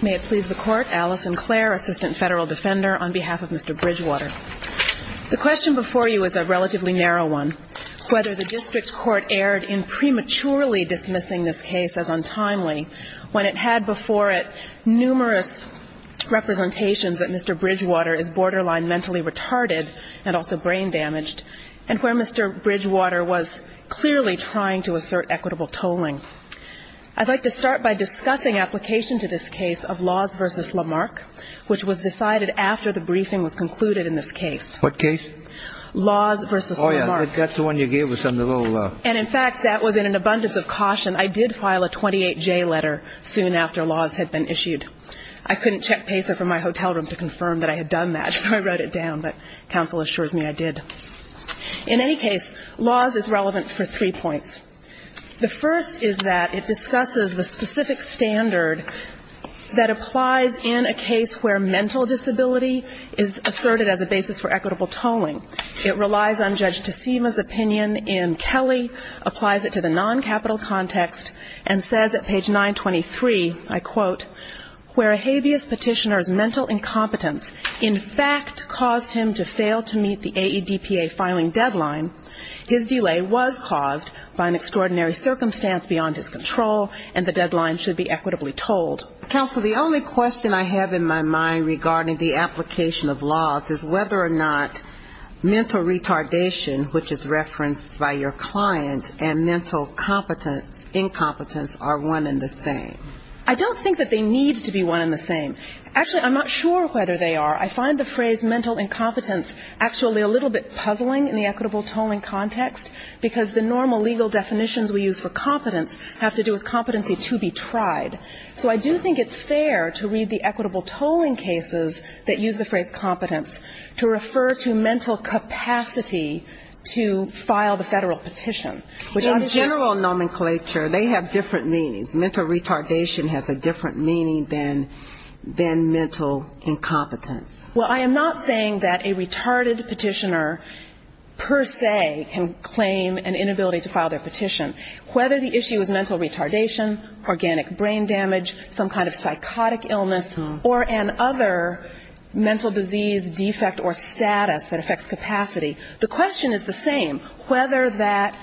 May it please the Court, Alice Sinclair, Assistant Federal Defender, on behalf of Mr. Bridgewater. The question before you is a relatively narrow one, whether the district court erred in prematurely dismissing this case as untimely when it had before it numerous representations that Mr. Bridgewater is borderline mentally retarded and also brain damaged, and where Mr. Bridgewater was clearly trying to assert equitable tolling. I'd like to start by discussing application to this case of Laws v. Lamarck, which was decided after the briefing was concluded in this case. What case? Laws v. Lamarck. Oh yeah, that's the one you gave us on the little uh... And in fact, that was in an abundance of caution. I did file a 28J letter soon after Laws had been issued. I couldn't check Pacer from my hotel room to confirm that I had done that, so I wrote it down, but counsel assures me I did. In any case, Laws is relevant for three points. The first is that it discusses the specific standard that applies in a case where mental disability is asserted as a basis for equitable tolling. It relies on Judge Tecima's opinion in Kelly, applies it to the non-capital context, and says at page 923, I quote, where a habeas petitioner's mental incompetence in fact caused him to fail to meet the AEDPA filing deadline, his delay was caused by an extraordinary circumstance beyond his control and the deadline should be equitably tolled. Counsel, the only question I have in my mind regarding the application of Laws is whether or not mental retardation, which is referenced by your client, and mental competence, incompetence are one and the same. I don't think that they need to be one and the same. Actually, I'm not sure whether they are. I find the phrase mental incompetence actually a little bit puzzling in the equitable tolling context, because the normal legal definitions we use for competence have to do with competency to be tried. So I do think it's fair to read the equitable tolling cases that use the phrase competence to refer to mental capacity to file the federal petition. In general nomenclature, they have different meanings. Mental retardation has a different meaning than mental incompetence. Well, I am not saying that a retarded petitioner per se can claim an inability to file their petition. Whether the issue is mental retardation, organic brain damage, some kind of psychotic illness, or an other mental disease defect or status that affects capacity, the question is the same. Whether that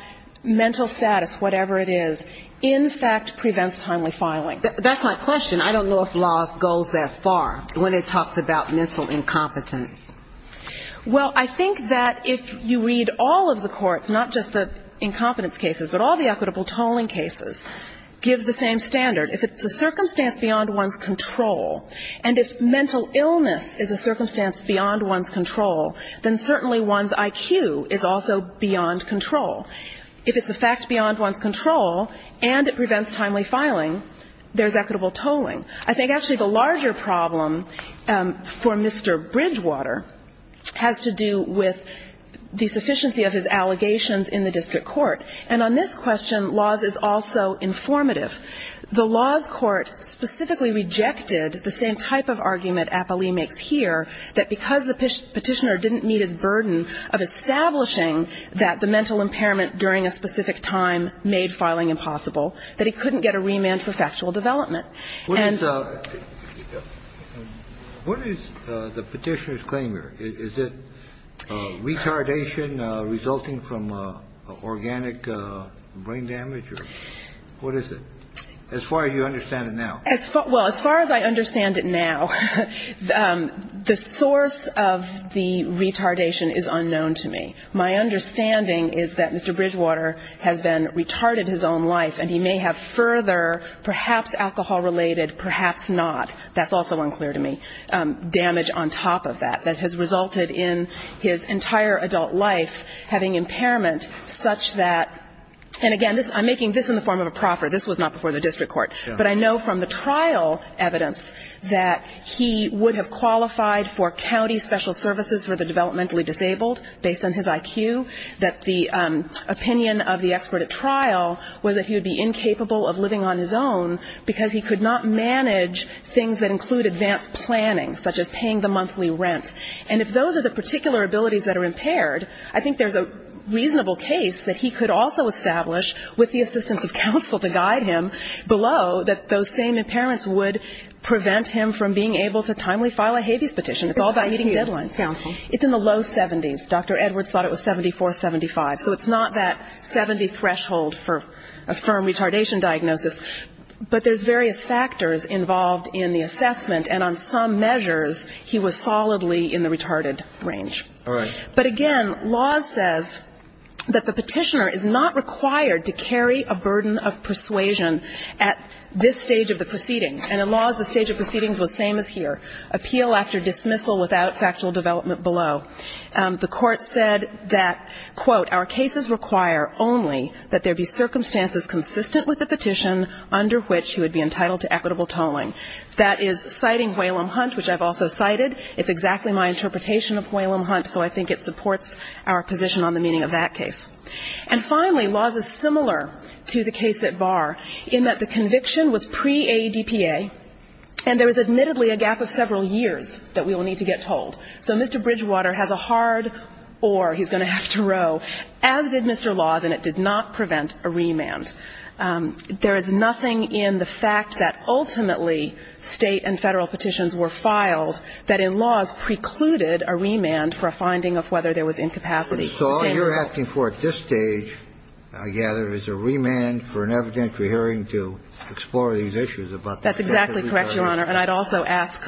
mental status, whatever it is, in fact prevents timely filing. That's my question. I don't know if law goes that far when it talks about mental incompetence. Well, I think that if you read all of the courts, not just the incompetence cases, but all the equitable tolling cases, give the same standard. If it's a circumstance beyond one's control, and if mental illness is a circumstance beyond one's control, then certainly one's IQ is also beyond control. If it's a fact beyond one's control, and it prevents timely filing, there's equitable tolling. I think actually the larger problem for Mr. Bridgewater has to do with the sufficiency of his allegations in the district court. And on this question, laws is also informative. The laws court specifically rejected the same type of argument Apolli makes here, that because the petitioner didn't meet his burden of establishing that the mental impairment during a specific time made filing impossible, that he couldn't get a remand for factual development. And the ---- What is the petitioner's claim here? Is it retardation resulting from organic brain damage, or what is it, as far as you understand it now? Well, as far as I understand it now, the source of the retardation is unknown and he may have further perhaps alcohol-related, perhaps not, that's also unclear to me, damage on top of that, that has resulted in his entire adult life having impairment such that ---- And again, I'm making this in the form of a proffer. This was not before the district court. But I know from the trial evidence that he would have qualified for county special services for the developmentally disabled, based on his IQ, that the opinion of the expert at trial was that he would be incapable of living on his own because he could not manage things that include advanced planning, such as paying the monthly rent. And if those are the particular abilities that are impaired, I think there's a reasonable case that he could also establish with the assistance of counsel to guide him below that those same impairments would prevent him from being able to timely file a habeas petition. It's all about meeting deadlines. It's in the low 70s. Dr. Edwards thought it was 74, 75. So it's not that 70 threshold for a firm retardation diagnosis. But there's various factors involved in the assessment. And on some measures, he was solidly in the retarded range. All right. But again, laws says that the petitioner is not required to carry a burden of persuasion at this stage of the proceedings. And in laws, the stage of proceedings was same as here, appeal after dismissal without factual development below. The Court said that, quote, Our cases require only that there be circumstances consistent with the petition under which he would be entitled to equitable tolling. That is citing Whalum Hunt, which I've also cited. It's exactly my interpretation of Whalum Hunt, so I think it supports our position on the meaning of that case. And finally, laws is similar to the case at Barr in that the conviction was pre-AEDPA and there was admittedly a gap of several years that we will need to get told. So Mr. Bridgewater has a hard oar he's going to have to row, as did Mr. Laws, and it did not prevent a remand. There is nothing in the fact that ultimately State and Federal petitions were filed that in laws precluded a remand for a finding of whether there was incapacity. So all you're asking for at this stage, I gather, is a remand for an evidentiary hearing to explore these issues about the fact that we don't have a remand. That's exactly correct, Your Honor. And I'd also ask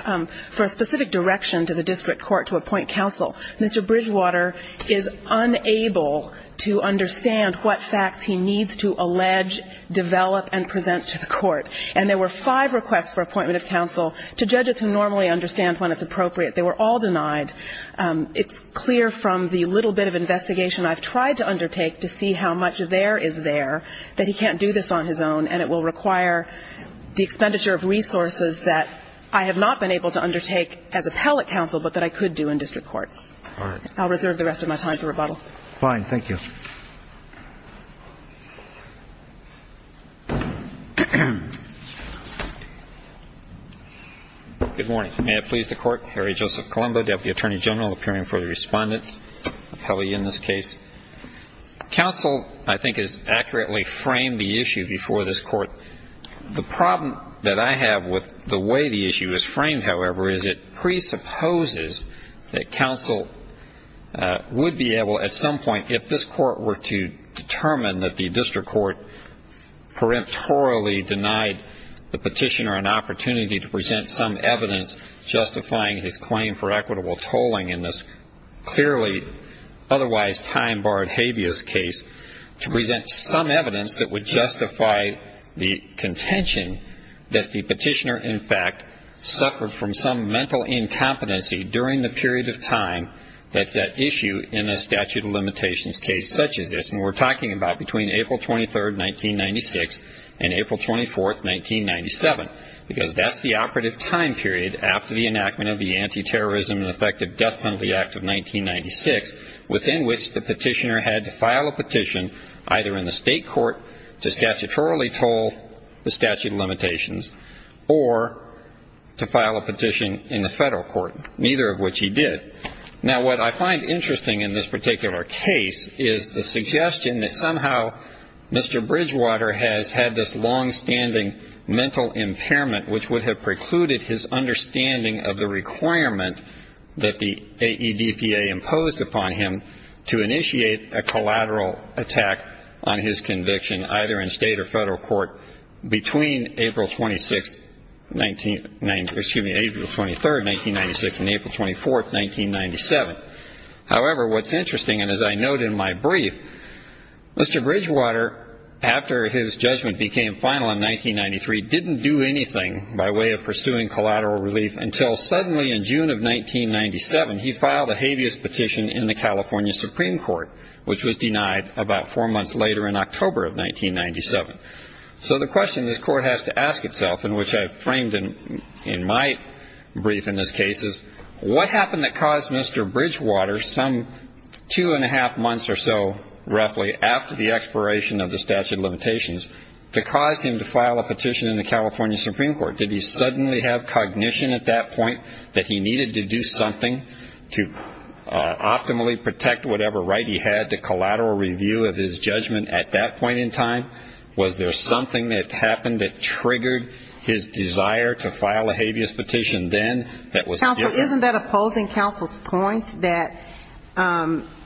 for a specific direction to the district court to appoint counsel. Mr. Bridgewater is unable to understand what facts he needs to allege, develop and present to the Court. And there were five requests for appointment of counsel to judges who normally understand when it's appropriate. They were all denied. It's clear from the little bit of investigation I've tried to undertake to see how much there is there that he can't do this on his own and it will require the expenditure of resources that I have not been able to undertake as appellate counsel but that I could do in district court. All right. I'll reserve the rest of my time for rebuttal. Fine. Thank you. Good morning. May it please the Court. Harry Joseph Colombo, Deputy Attorney General, appearing for the Respondent appellee in this case. Counsel, I think, has accurately framed the issue before this Court. The problem that I have with the way the issue is framed, however, is it presupposes that counsel would be able at some point, if this Court were to determine that the district court peremptorily denied the petitioner an opportunity to present some evidence justifying his claim for equitable tolling in this clearly otherwise time-barred habeas case to present some evidence that would justify the contention that the petitioner, in fact, suffered from some mental incompetency during the period of time that's at issue in a statute of limitations case such as this. And we're talking about between April 23, 1996, and April 24, 1997, because that's the operative time period after the enactment of the Anti-Terrorism and Effective Death Penalty Act of 1996, within which the petitioner had to file a petition either in the state court to statutorily toll the statute of limitations or to file a petition in the federal court, neither of which he did. Now, what I find interesting in this particular case is the suggestion that somehow Mr. Bridgewater has had this long-standing mental impairment which would have precluded his understanding of the requirement that the AEDPA imposed upon him to initiate a collateral attack on his conviction, either in state or federal court, between April 26, excuse me, April 23, 1996, and April 24, 1997. However, what's interesting, and as I note in my brief, Mr. Bridgewater, after his judgment became final in 1993, didn't do anything by way of pursuing collateral relief until suddenly in June of 1997, he filed a habeas petition in the California Supreme Court, which was denied about four months later in October of 1997. So the question this court has to ask itself, and which I framed in my brief in this case, is what happened that caused Mr. Bridgewater some two-and-a-half months or so roughly after the expiration of the statute of limitations to cause him to file a petition in the California Supreme Court? Did he suddenly have cognition at that point that he needed to do something to optimally protect whatever right he had to collateral review of his judgment at that point in time? Was there something that happened that triggered his desire to file a habeas petition then that was opposing counsel's point that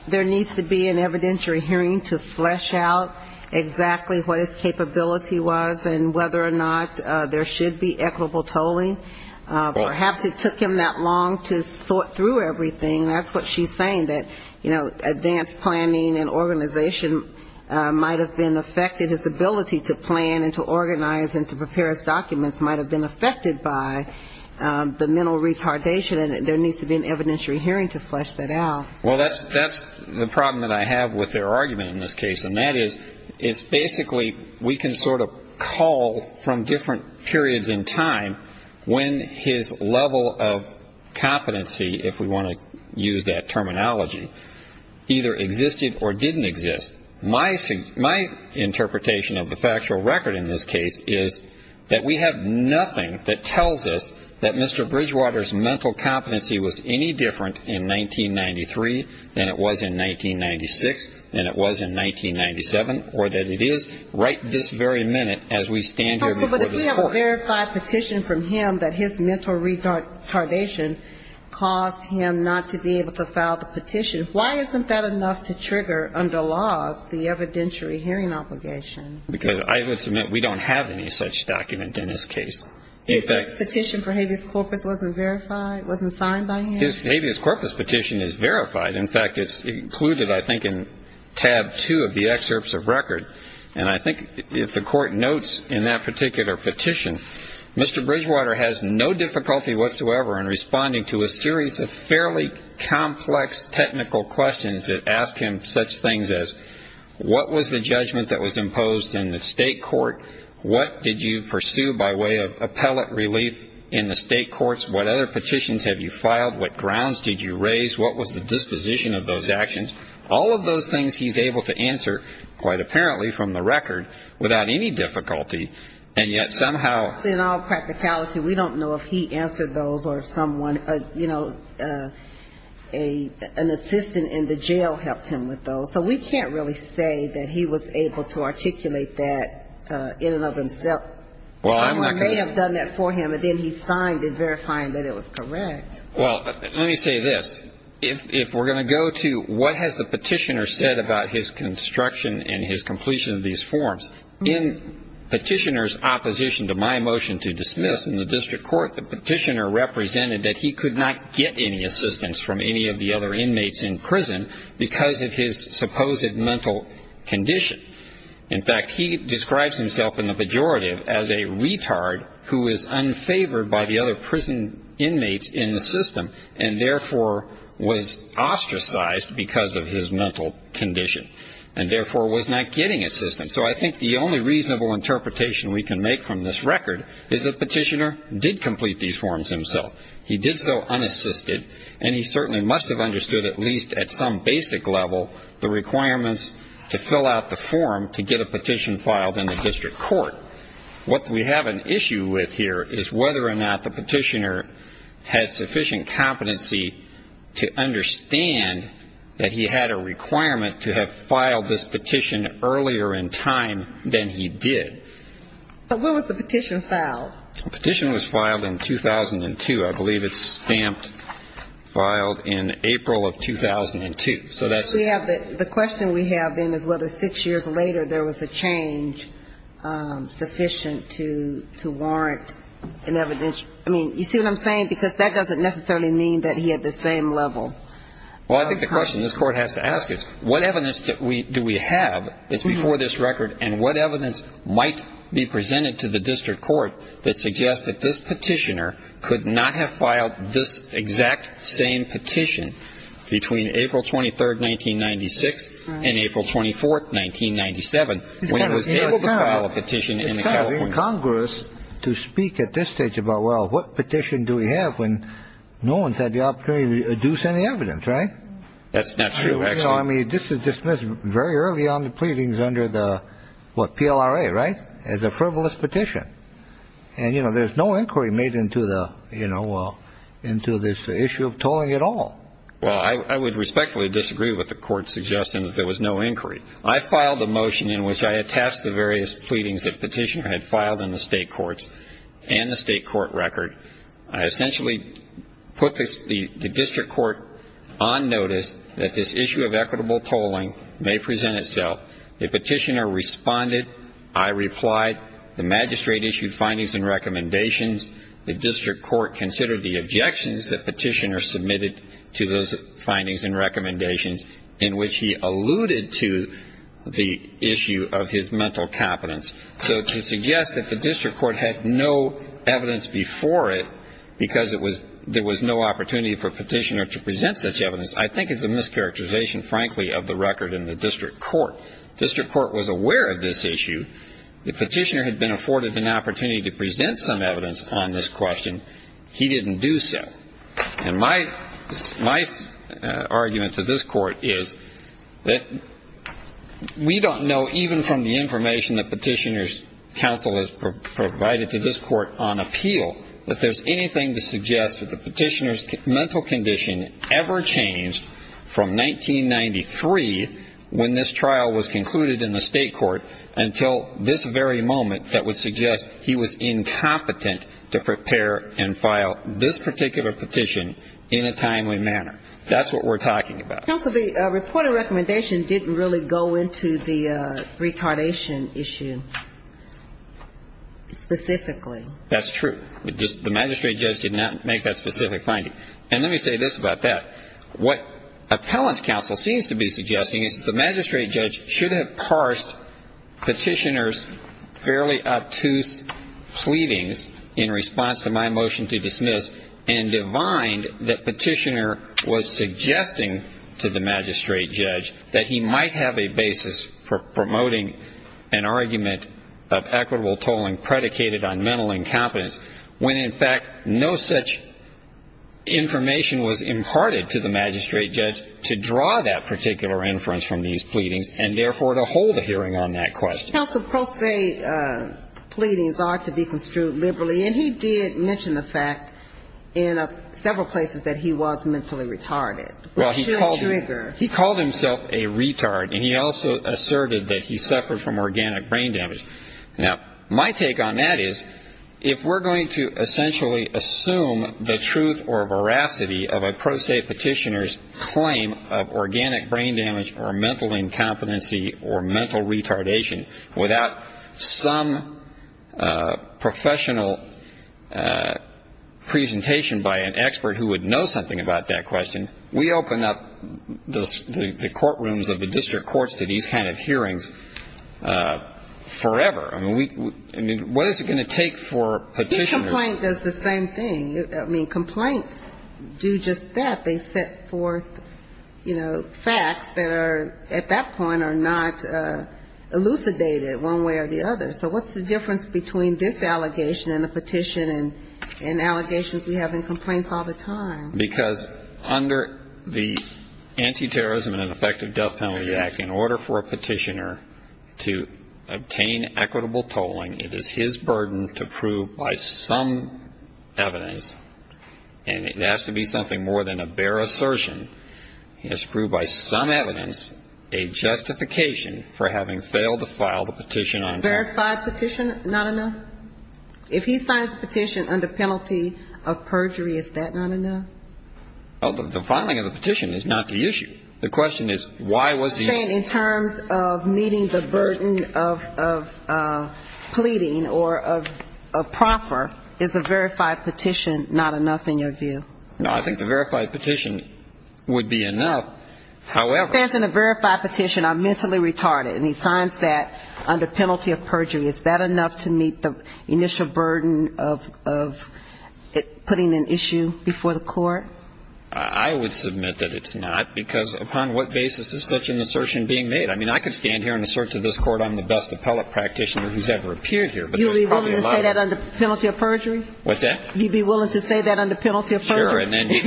there needs to be an evidentiary hearing to flesh out exactly what his capability was and whether or not there should be equitable tolling? Perhaps it took him that long to sort through everything, and that's what she's saying, that, you know, advanced planning and organization might have been affected. His ability to plan and to organize and to prepare his documents might have been affected by the mental retardation and there needs to be an evidentiary hearing to flesh that out. Well, that's the problem that I have with their argument in this case, and that is basically we can sort of call from different periods in time when his level of competency, if we want to use that terminology, either existed or didn't exist. My interpretation of the factual record in this case is that we have nothing that tells us that Mr. Bridgewater's mental competency was any different in 1993 than it was in 1996 than it was in 1997, or that it is right this very minute as we stand here before this court. But if we have a verified petition from him that his mental retardation caused him not to be able to file the petition, why isn't that enough to trigger under laws the evidentiary hearing obligation? Because I would submit we don't have any such document in this case. If his petition for habeas corpus wasn't verified, wasn't signed by him? His habeas corpus petition is verified. In fact, it's included, I think, in tab two of the excerpts of record, and I think if the court notes in that particular petition, Mr. Bridgewater has no difficulty whatsoever in responding to a series of fairly complex technical questions that ask him such things as, what was the judgment that was imposed on him? What was the judgment that was imposed in the state court? What did you pursue by way of appellate relief in the state courts? What other petitions have you filed? What grounds did you raise? What was the disposition of those actions? All of those things he's able to answer, quite apparently from the record, without any difficulty, and yet somehow... In all practicality, we don't know if he answered those or if someone, you know, an assistant in the jail helped him with those. I don't think that in and of himself, someone may have done that for him, and then he signed it, verifying that it was correct. Well, let me say this. If we're going to go to what has the petitioner said about his construction and his completion of these forms, in petitioner's opposition to my motion to dismiss in the district court, the petitioner represented that he could not get any assistance from any of the other inmates in prison because of his supposed mental condition. In fact, he describes himself in the pejorative as a retard who is unfavored by the other prison inmates in the system, and therefore was ostracized because of his mental condition, and therefore was not getting assistance. So I think the only reasonable interpretation we can make from this record is that petitioner did complete these forms himself. He did so unassisted, and he certainly must have understood at least at some basic level the requirements to fill out the forms to get a petition filed in the district court. What we have an issue with here is whether or not the petitioner had sufficient competency to understand that he had a requirement to have filed this petition earlier in time than he did. But when was the petition filed? The petition was filed in 2002. I believe it's stamped, filed in April of 2002. The question we have then is whether six years later there was a change sufficient to warrant an evidence. I mean, you see what I'm saying? Because that doesn't necessarily mean that he had the same level. Well, I think the question this Court has to ask is what evidence do we have that's before this record, and what evidence might be presented to the district court that suggests that this petitioner could not have filed this exact same petition between April 23rd, 1996, and April 24th, 1997, when he was able to file a petition in the California District Court? It's kind of incongruous to speak at this stage about, well, what petition do we have when no one's had the opportunity to deduce any evidence, right? That's not true, actually. You know, I mean, this was dismissed very early on the pleadings under the, what, PLRA, right, as a frivolous petition. And, you know, there's no inquiry made into the, you know, into this issue of tolling at all. Well, I would respectfully disagree with the Court's suggestion that there was no inquiry. I filed a motion in which I attached the various pleadings the petitioner had filed in the state courts and the state court record. I essentially put the district court on notice that this issue of equitable tolling may present itself. The petitioner responded. I replied. The magistrate issued findings and recommendations. The district court considered the objections the petitioner submitted to those findings and recommendations, in which he alluded to the issue of his mental competence. So to suggest that the district court had no evidence before it because there was no opportunity for a petitioner to present such evidence I think is a mischaracterization, frankly, of the record in the district court. District court was aware of this issue. The petitioner had been afforded an opportunity to present some evidence on this question. He didn't do so. And my argument to this court is that we don't know, even from the information that Petitioner's Counsel has provided to this court on appeal, that there's anything to suggest that the petitioner's mental condition ever changed from 1993 when this trial was concluded in the state court until this very moment that would suggest he was incompetent to prepare and file this particular petition in a timely manner. That's what we're talking about. Counsel, the report of recommendation didn't really go into the retardation issue specifically. That's true. The magistrate judge did not make that specific finding. And let me say this about that. What Appellant's Counsel seems to be suggesting is that the magistrate judge should have parsed Petitioner's fairly obtuse pleadings in response to my motion to dismiss and divined that Petitioner was suggesting to the magistrate judge that he might have a basis for promoting an argument of equitable tolling predicated on mental incompetence, when in fact no such information was imparted to the magistrate judge to draw that particular inference from these pleadings, and therefore to hold a hearing on that question. Counsel, Pro Se pleadings are to be construed liberally, and he did mention the fact in several places that he was mentally retarded. Well, he called himself a retard, and he also asserted that he suffered from organic brain damage. Now, my take on that is if we're going to essentially assume the truth or veracity of Petitioner's pleadings, we have to assume the truth or veracity of a pro se Petitioner's claim of organic brain damage or mental incompetency or mental retardation. Without some professional presentation by an expert who would know something about that question, we open up the courtrooms of the district courts to these kind of hearings forever. I mean, what is it going to take for Petitioner's ---- Complaint does the same thing. I mean, complaints do just that. They set forth, you know, facts that are at that point are not elucidated one way or the other. So what's the difference between this allegation and a petition and allegations we have in complaints all the time? Because under the Anti-Terrorism and Ineffective Death Penalty Act, in order for a petitioner to obtain equitable tolling, it is his own evidence, and it has to be something more than a bare assertion. He has to prove by some evidence a justification for having failed to file the petition on time. Verified petition, not enough? If he signs the petition under penalty of perjury, is that not enough? Well, the filing of the petition is not the issue. The question is why was the ---- In terms of meeting the burden of pleading or of proffer, is that not enough? Is the verified petition not enough in your view? No, I think the verified petition would be enough. However ---- He stands in a verified petition, I'm mentally retarded, and he signs that under penalty of perjury. Is that enough to meet the initial burden of putting an issue before the court? I would submit that it's not, because upon what basis is such an assertion being made? I mean, I could stand here and assert to this point, you'd be willing to say that under penalty of perjury? Sure, and if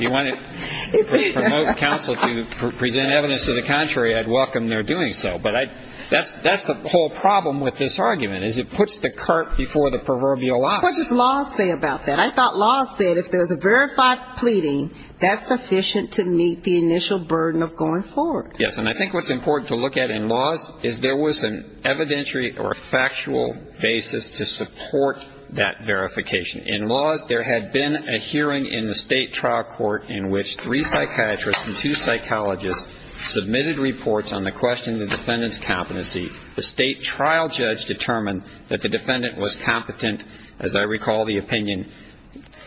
you want to promote counsel to present evidence to the contrary, I'd welcome their doing so, but that's the whole problem with this argument, is it puts the cart before the proverbial ox. What does law say about that? I thought law said if there is a verified pleading, that's sufficient to meet the initial burden of going forward. Yes, and I think what's important to look at in laws is there was an evidentiary or factual basis to support that verification. In laws, there had been a hearing in the state trial court in which three psychiatrists and two psychologists submitted reports on the question of the defendant's competency. The state trial judge determined that the defendant was competent, as I recall the opinion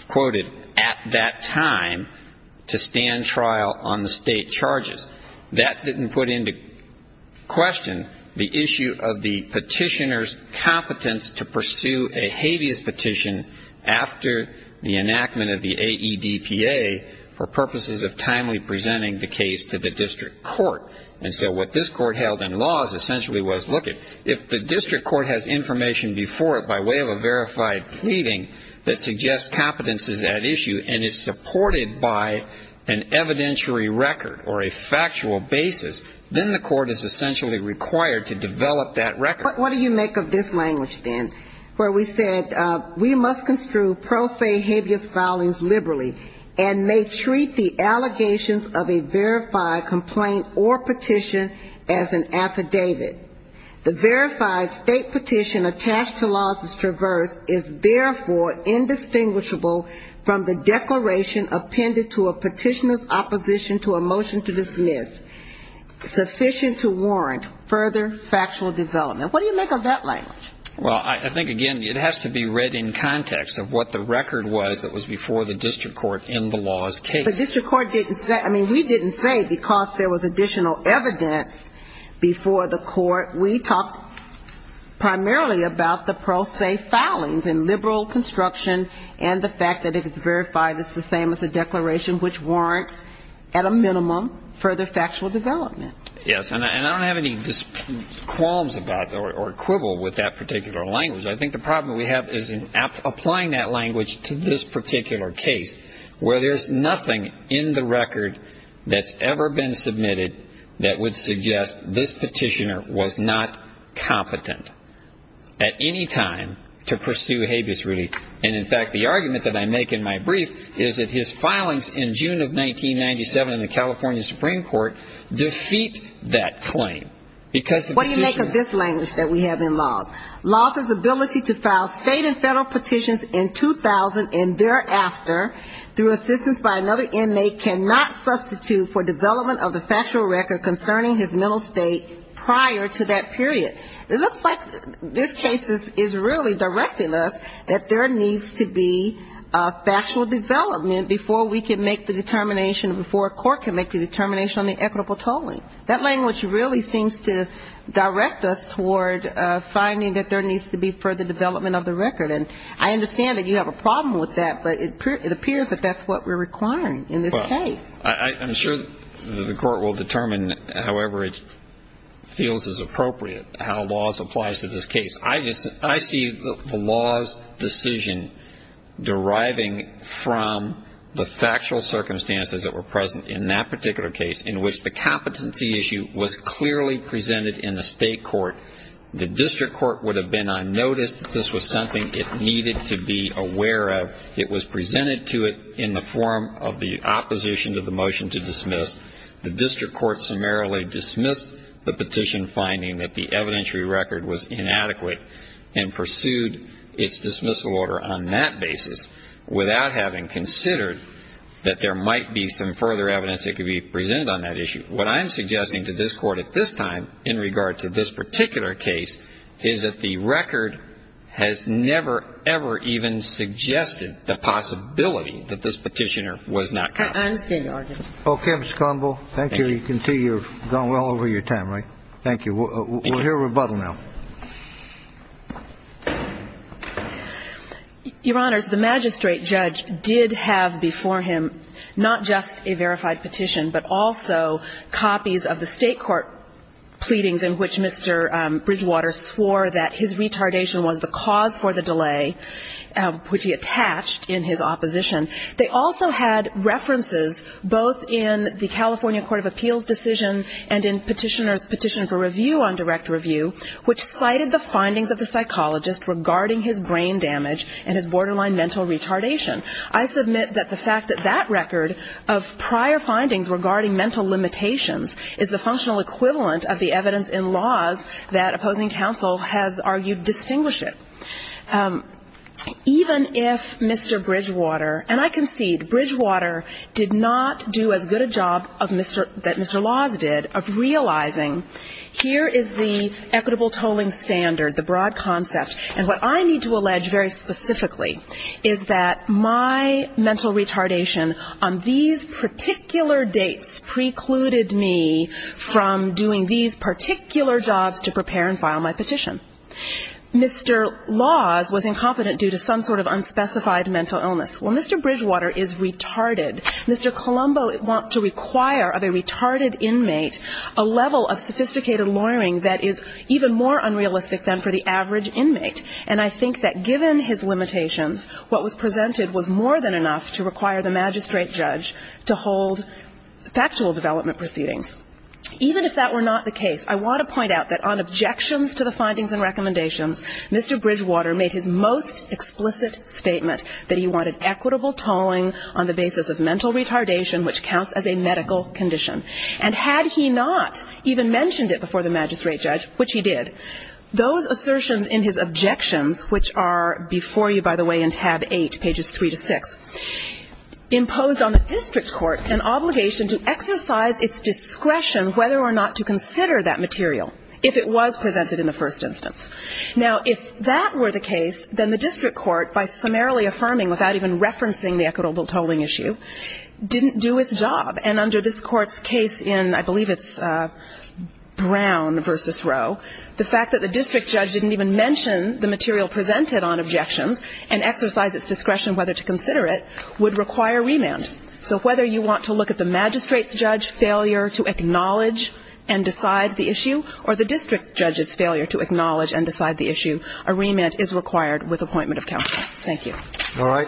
quoted, at that time to stand trial on the state charges. That didn't put into question the issue of the petitioner's competence to pursue a habeas petition after the enactment of the AEDPA for purposes of timely presenting the case to the district court. And so what this court held in laws essentially was, look, if the district court has information before it by way of a verified pleading that suggests competence is at issue and is a factual basis, then the court is essentially required to develop that record. What do you make of this language, then, where we said we must construe pro se habeas filings liberally and may treat the allegations of a verified complaint or petition as an affidavit? The verified state petition attached to laws as traversed is therefore indistinguishable from the declaration appended to a petitioner's opposition to a motion to dismiss. Sufficient to warrant further factual development. What do you make of that language? Well, I think, again, it has to be read in context of what the record was that was before the district court in the law's case. The district court didn't say we didn't say because there was additional evidence before the court. We talked primarily about the pro se filings and liberal construction and the fact that if it's verified it's the same as a declaration which warrants at a point a factual development. Yes, and I don't have any qualms about or quibble with that particular language. I think the problem we have is in applying that language to this particular case where there's nothing in the record that's ever been submitted that would suggest this petitioner was not competent at any time to pursue habeas relief. And, in fact, the argument that I make in my brief is that his ability to file state and federal petitions in 2000 and thereafter through assistance by another inmate cannot substitute for development of the factual record concerning his mental state prior to that period. It looks like this case is really directing us that there needs to be a factual development before we can make the determination before a court can make the determination on the equitable tolling. That language really seems to direct us toward finding that there needs to be further development of the record. And I understand that you have a problem with that, but it appears that that's what we're requiring in this case. Well, I'm sure the court will determine however it feels is appropriate how laws applies to this case. I see the law's decision deriving from the factual circumstances that were present in that particular case in which the competency issue was clearly presented in the state court. The district court would have been unnoticed that this was something it needed to be aware of. It was presented to it in the form of the opposition to the motion to dismiss. The district court summarily dismissed the petition finding that the evidentiary record was inadequate and pursued its dismissal order on that basis. Without having considered that there might be some further evidence that could be presented on that issue. What I'm suggesting to this court at this time in regard to this particular case is that the record has never, ever even suggested the possibility that this petitioner was not caught. I understand your argument. Okay, Mr. Conville. Thank you. You can see you've gone well over your time, right? Thank you. We'll hear rebuttal now. Your Honors, the magistrate judge did have before him not just a verified petition, but also copies of the state court pleadings in which Mr. Bridgewater swore that his retardation was the cause for the delay which he attached in his opposition. They also had references both in the California Court of Appeals decision and in petitioner's petition for review on direct review, which cited the findings of the psychologist regarding his brain damage and his borderline mental retardation. I submit that the fact that that record of prior findings regarding mental limitations is the functional equivalent of the evidence in laws that opposing counsel has argued distinguish it. Even if Mr. Bridgewater, and I concede Bridgewater did not do as good a job of Mr. that Mr. Laws did of realizing here is the equitable tolling standard, the broad concept, and what I need to allege very specifically is that my mental retardation on these particular dates precluded me from doing these particular jobs to prepare and file my petition. Mr. Laws was incompetent due to some sort of unspecified mental illness. Well, Mr. Bridgewater is retarded. Mr. Colombo wants to require of a retarded inmate a level of sophisticated lawyering that is even more unrealistic than for the average inmate, and I think that given his limitations, what was presented was more than enough to require the magistrate judge to hold factual development proceedings. In the first instance, Mr. Bridgewater made his most explicit statement that he wanted equitable tolling on the basis of mental retardation, which counts as a medical condition, and had he not even mentioned it before the magistrate judge, which he did, those assertions in his objections, which are before you, by the way, in tab 8, pages 3 to 6, imposed on the district court an obligation to exercise its discretion whether or not to consider that material if it was presented in the first instance. Now, if that were the case, then the district court, by summarily affirming without even referencing the equitable tolling issue, didn't do its job, and under this court's case in, I believe it's Brown v. Rowe, the fact that the district judge didn't even mention the material presented on objections and exercise its discretion whether to consider it would require remand. So whether you want to look at the magistrate's judge failure to acknowledge and decide the issue, or the district judge's failure to acknowledge and decide the issue, a remand is required with appointment of counsel. Thank you. All right.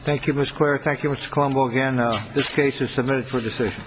Thank you, Ms. Claire. Thank you, Mr. Colombo, again. This case is submitted for decision.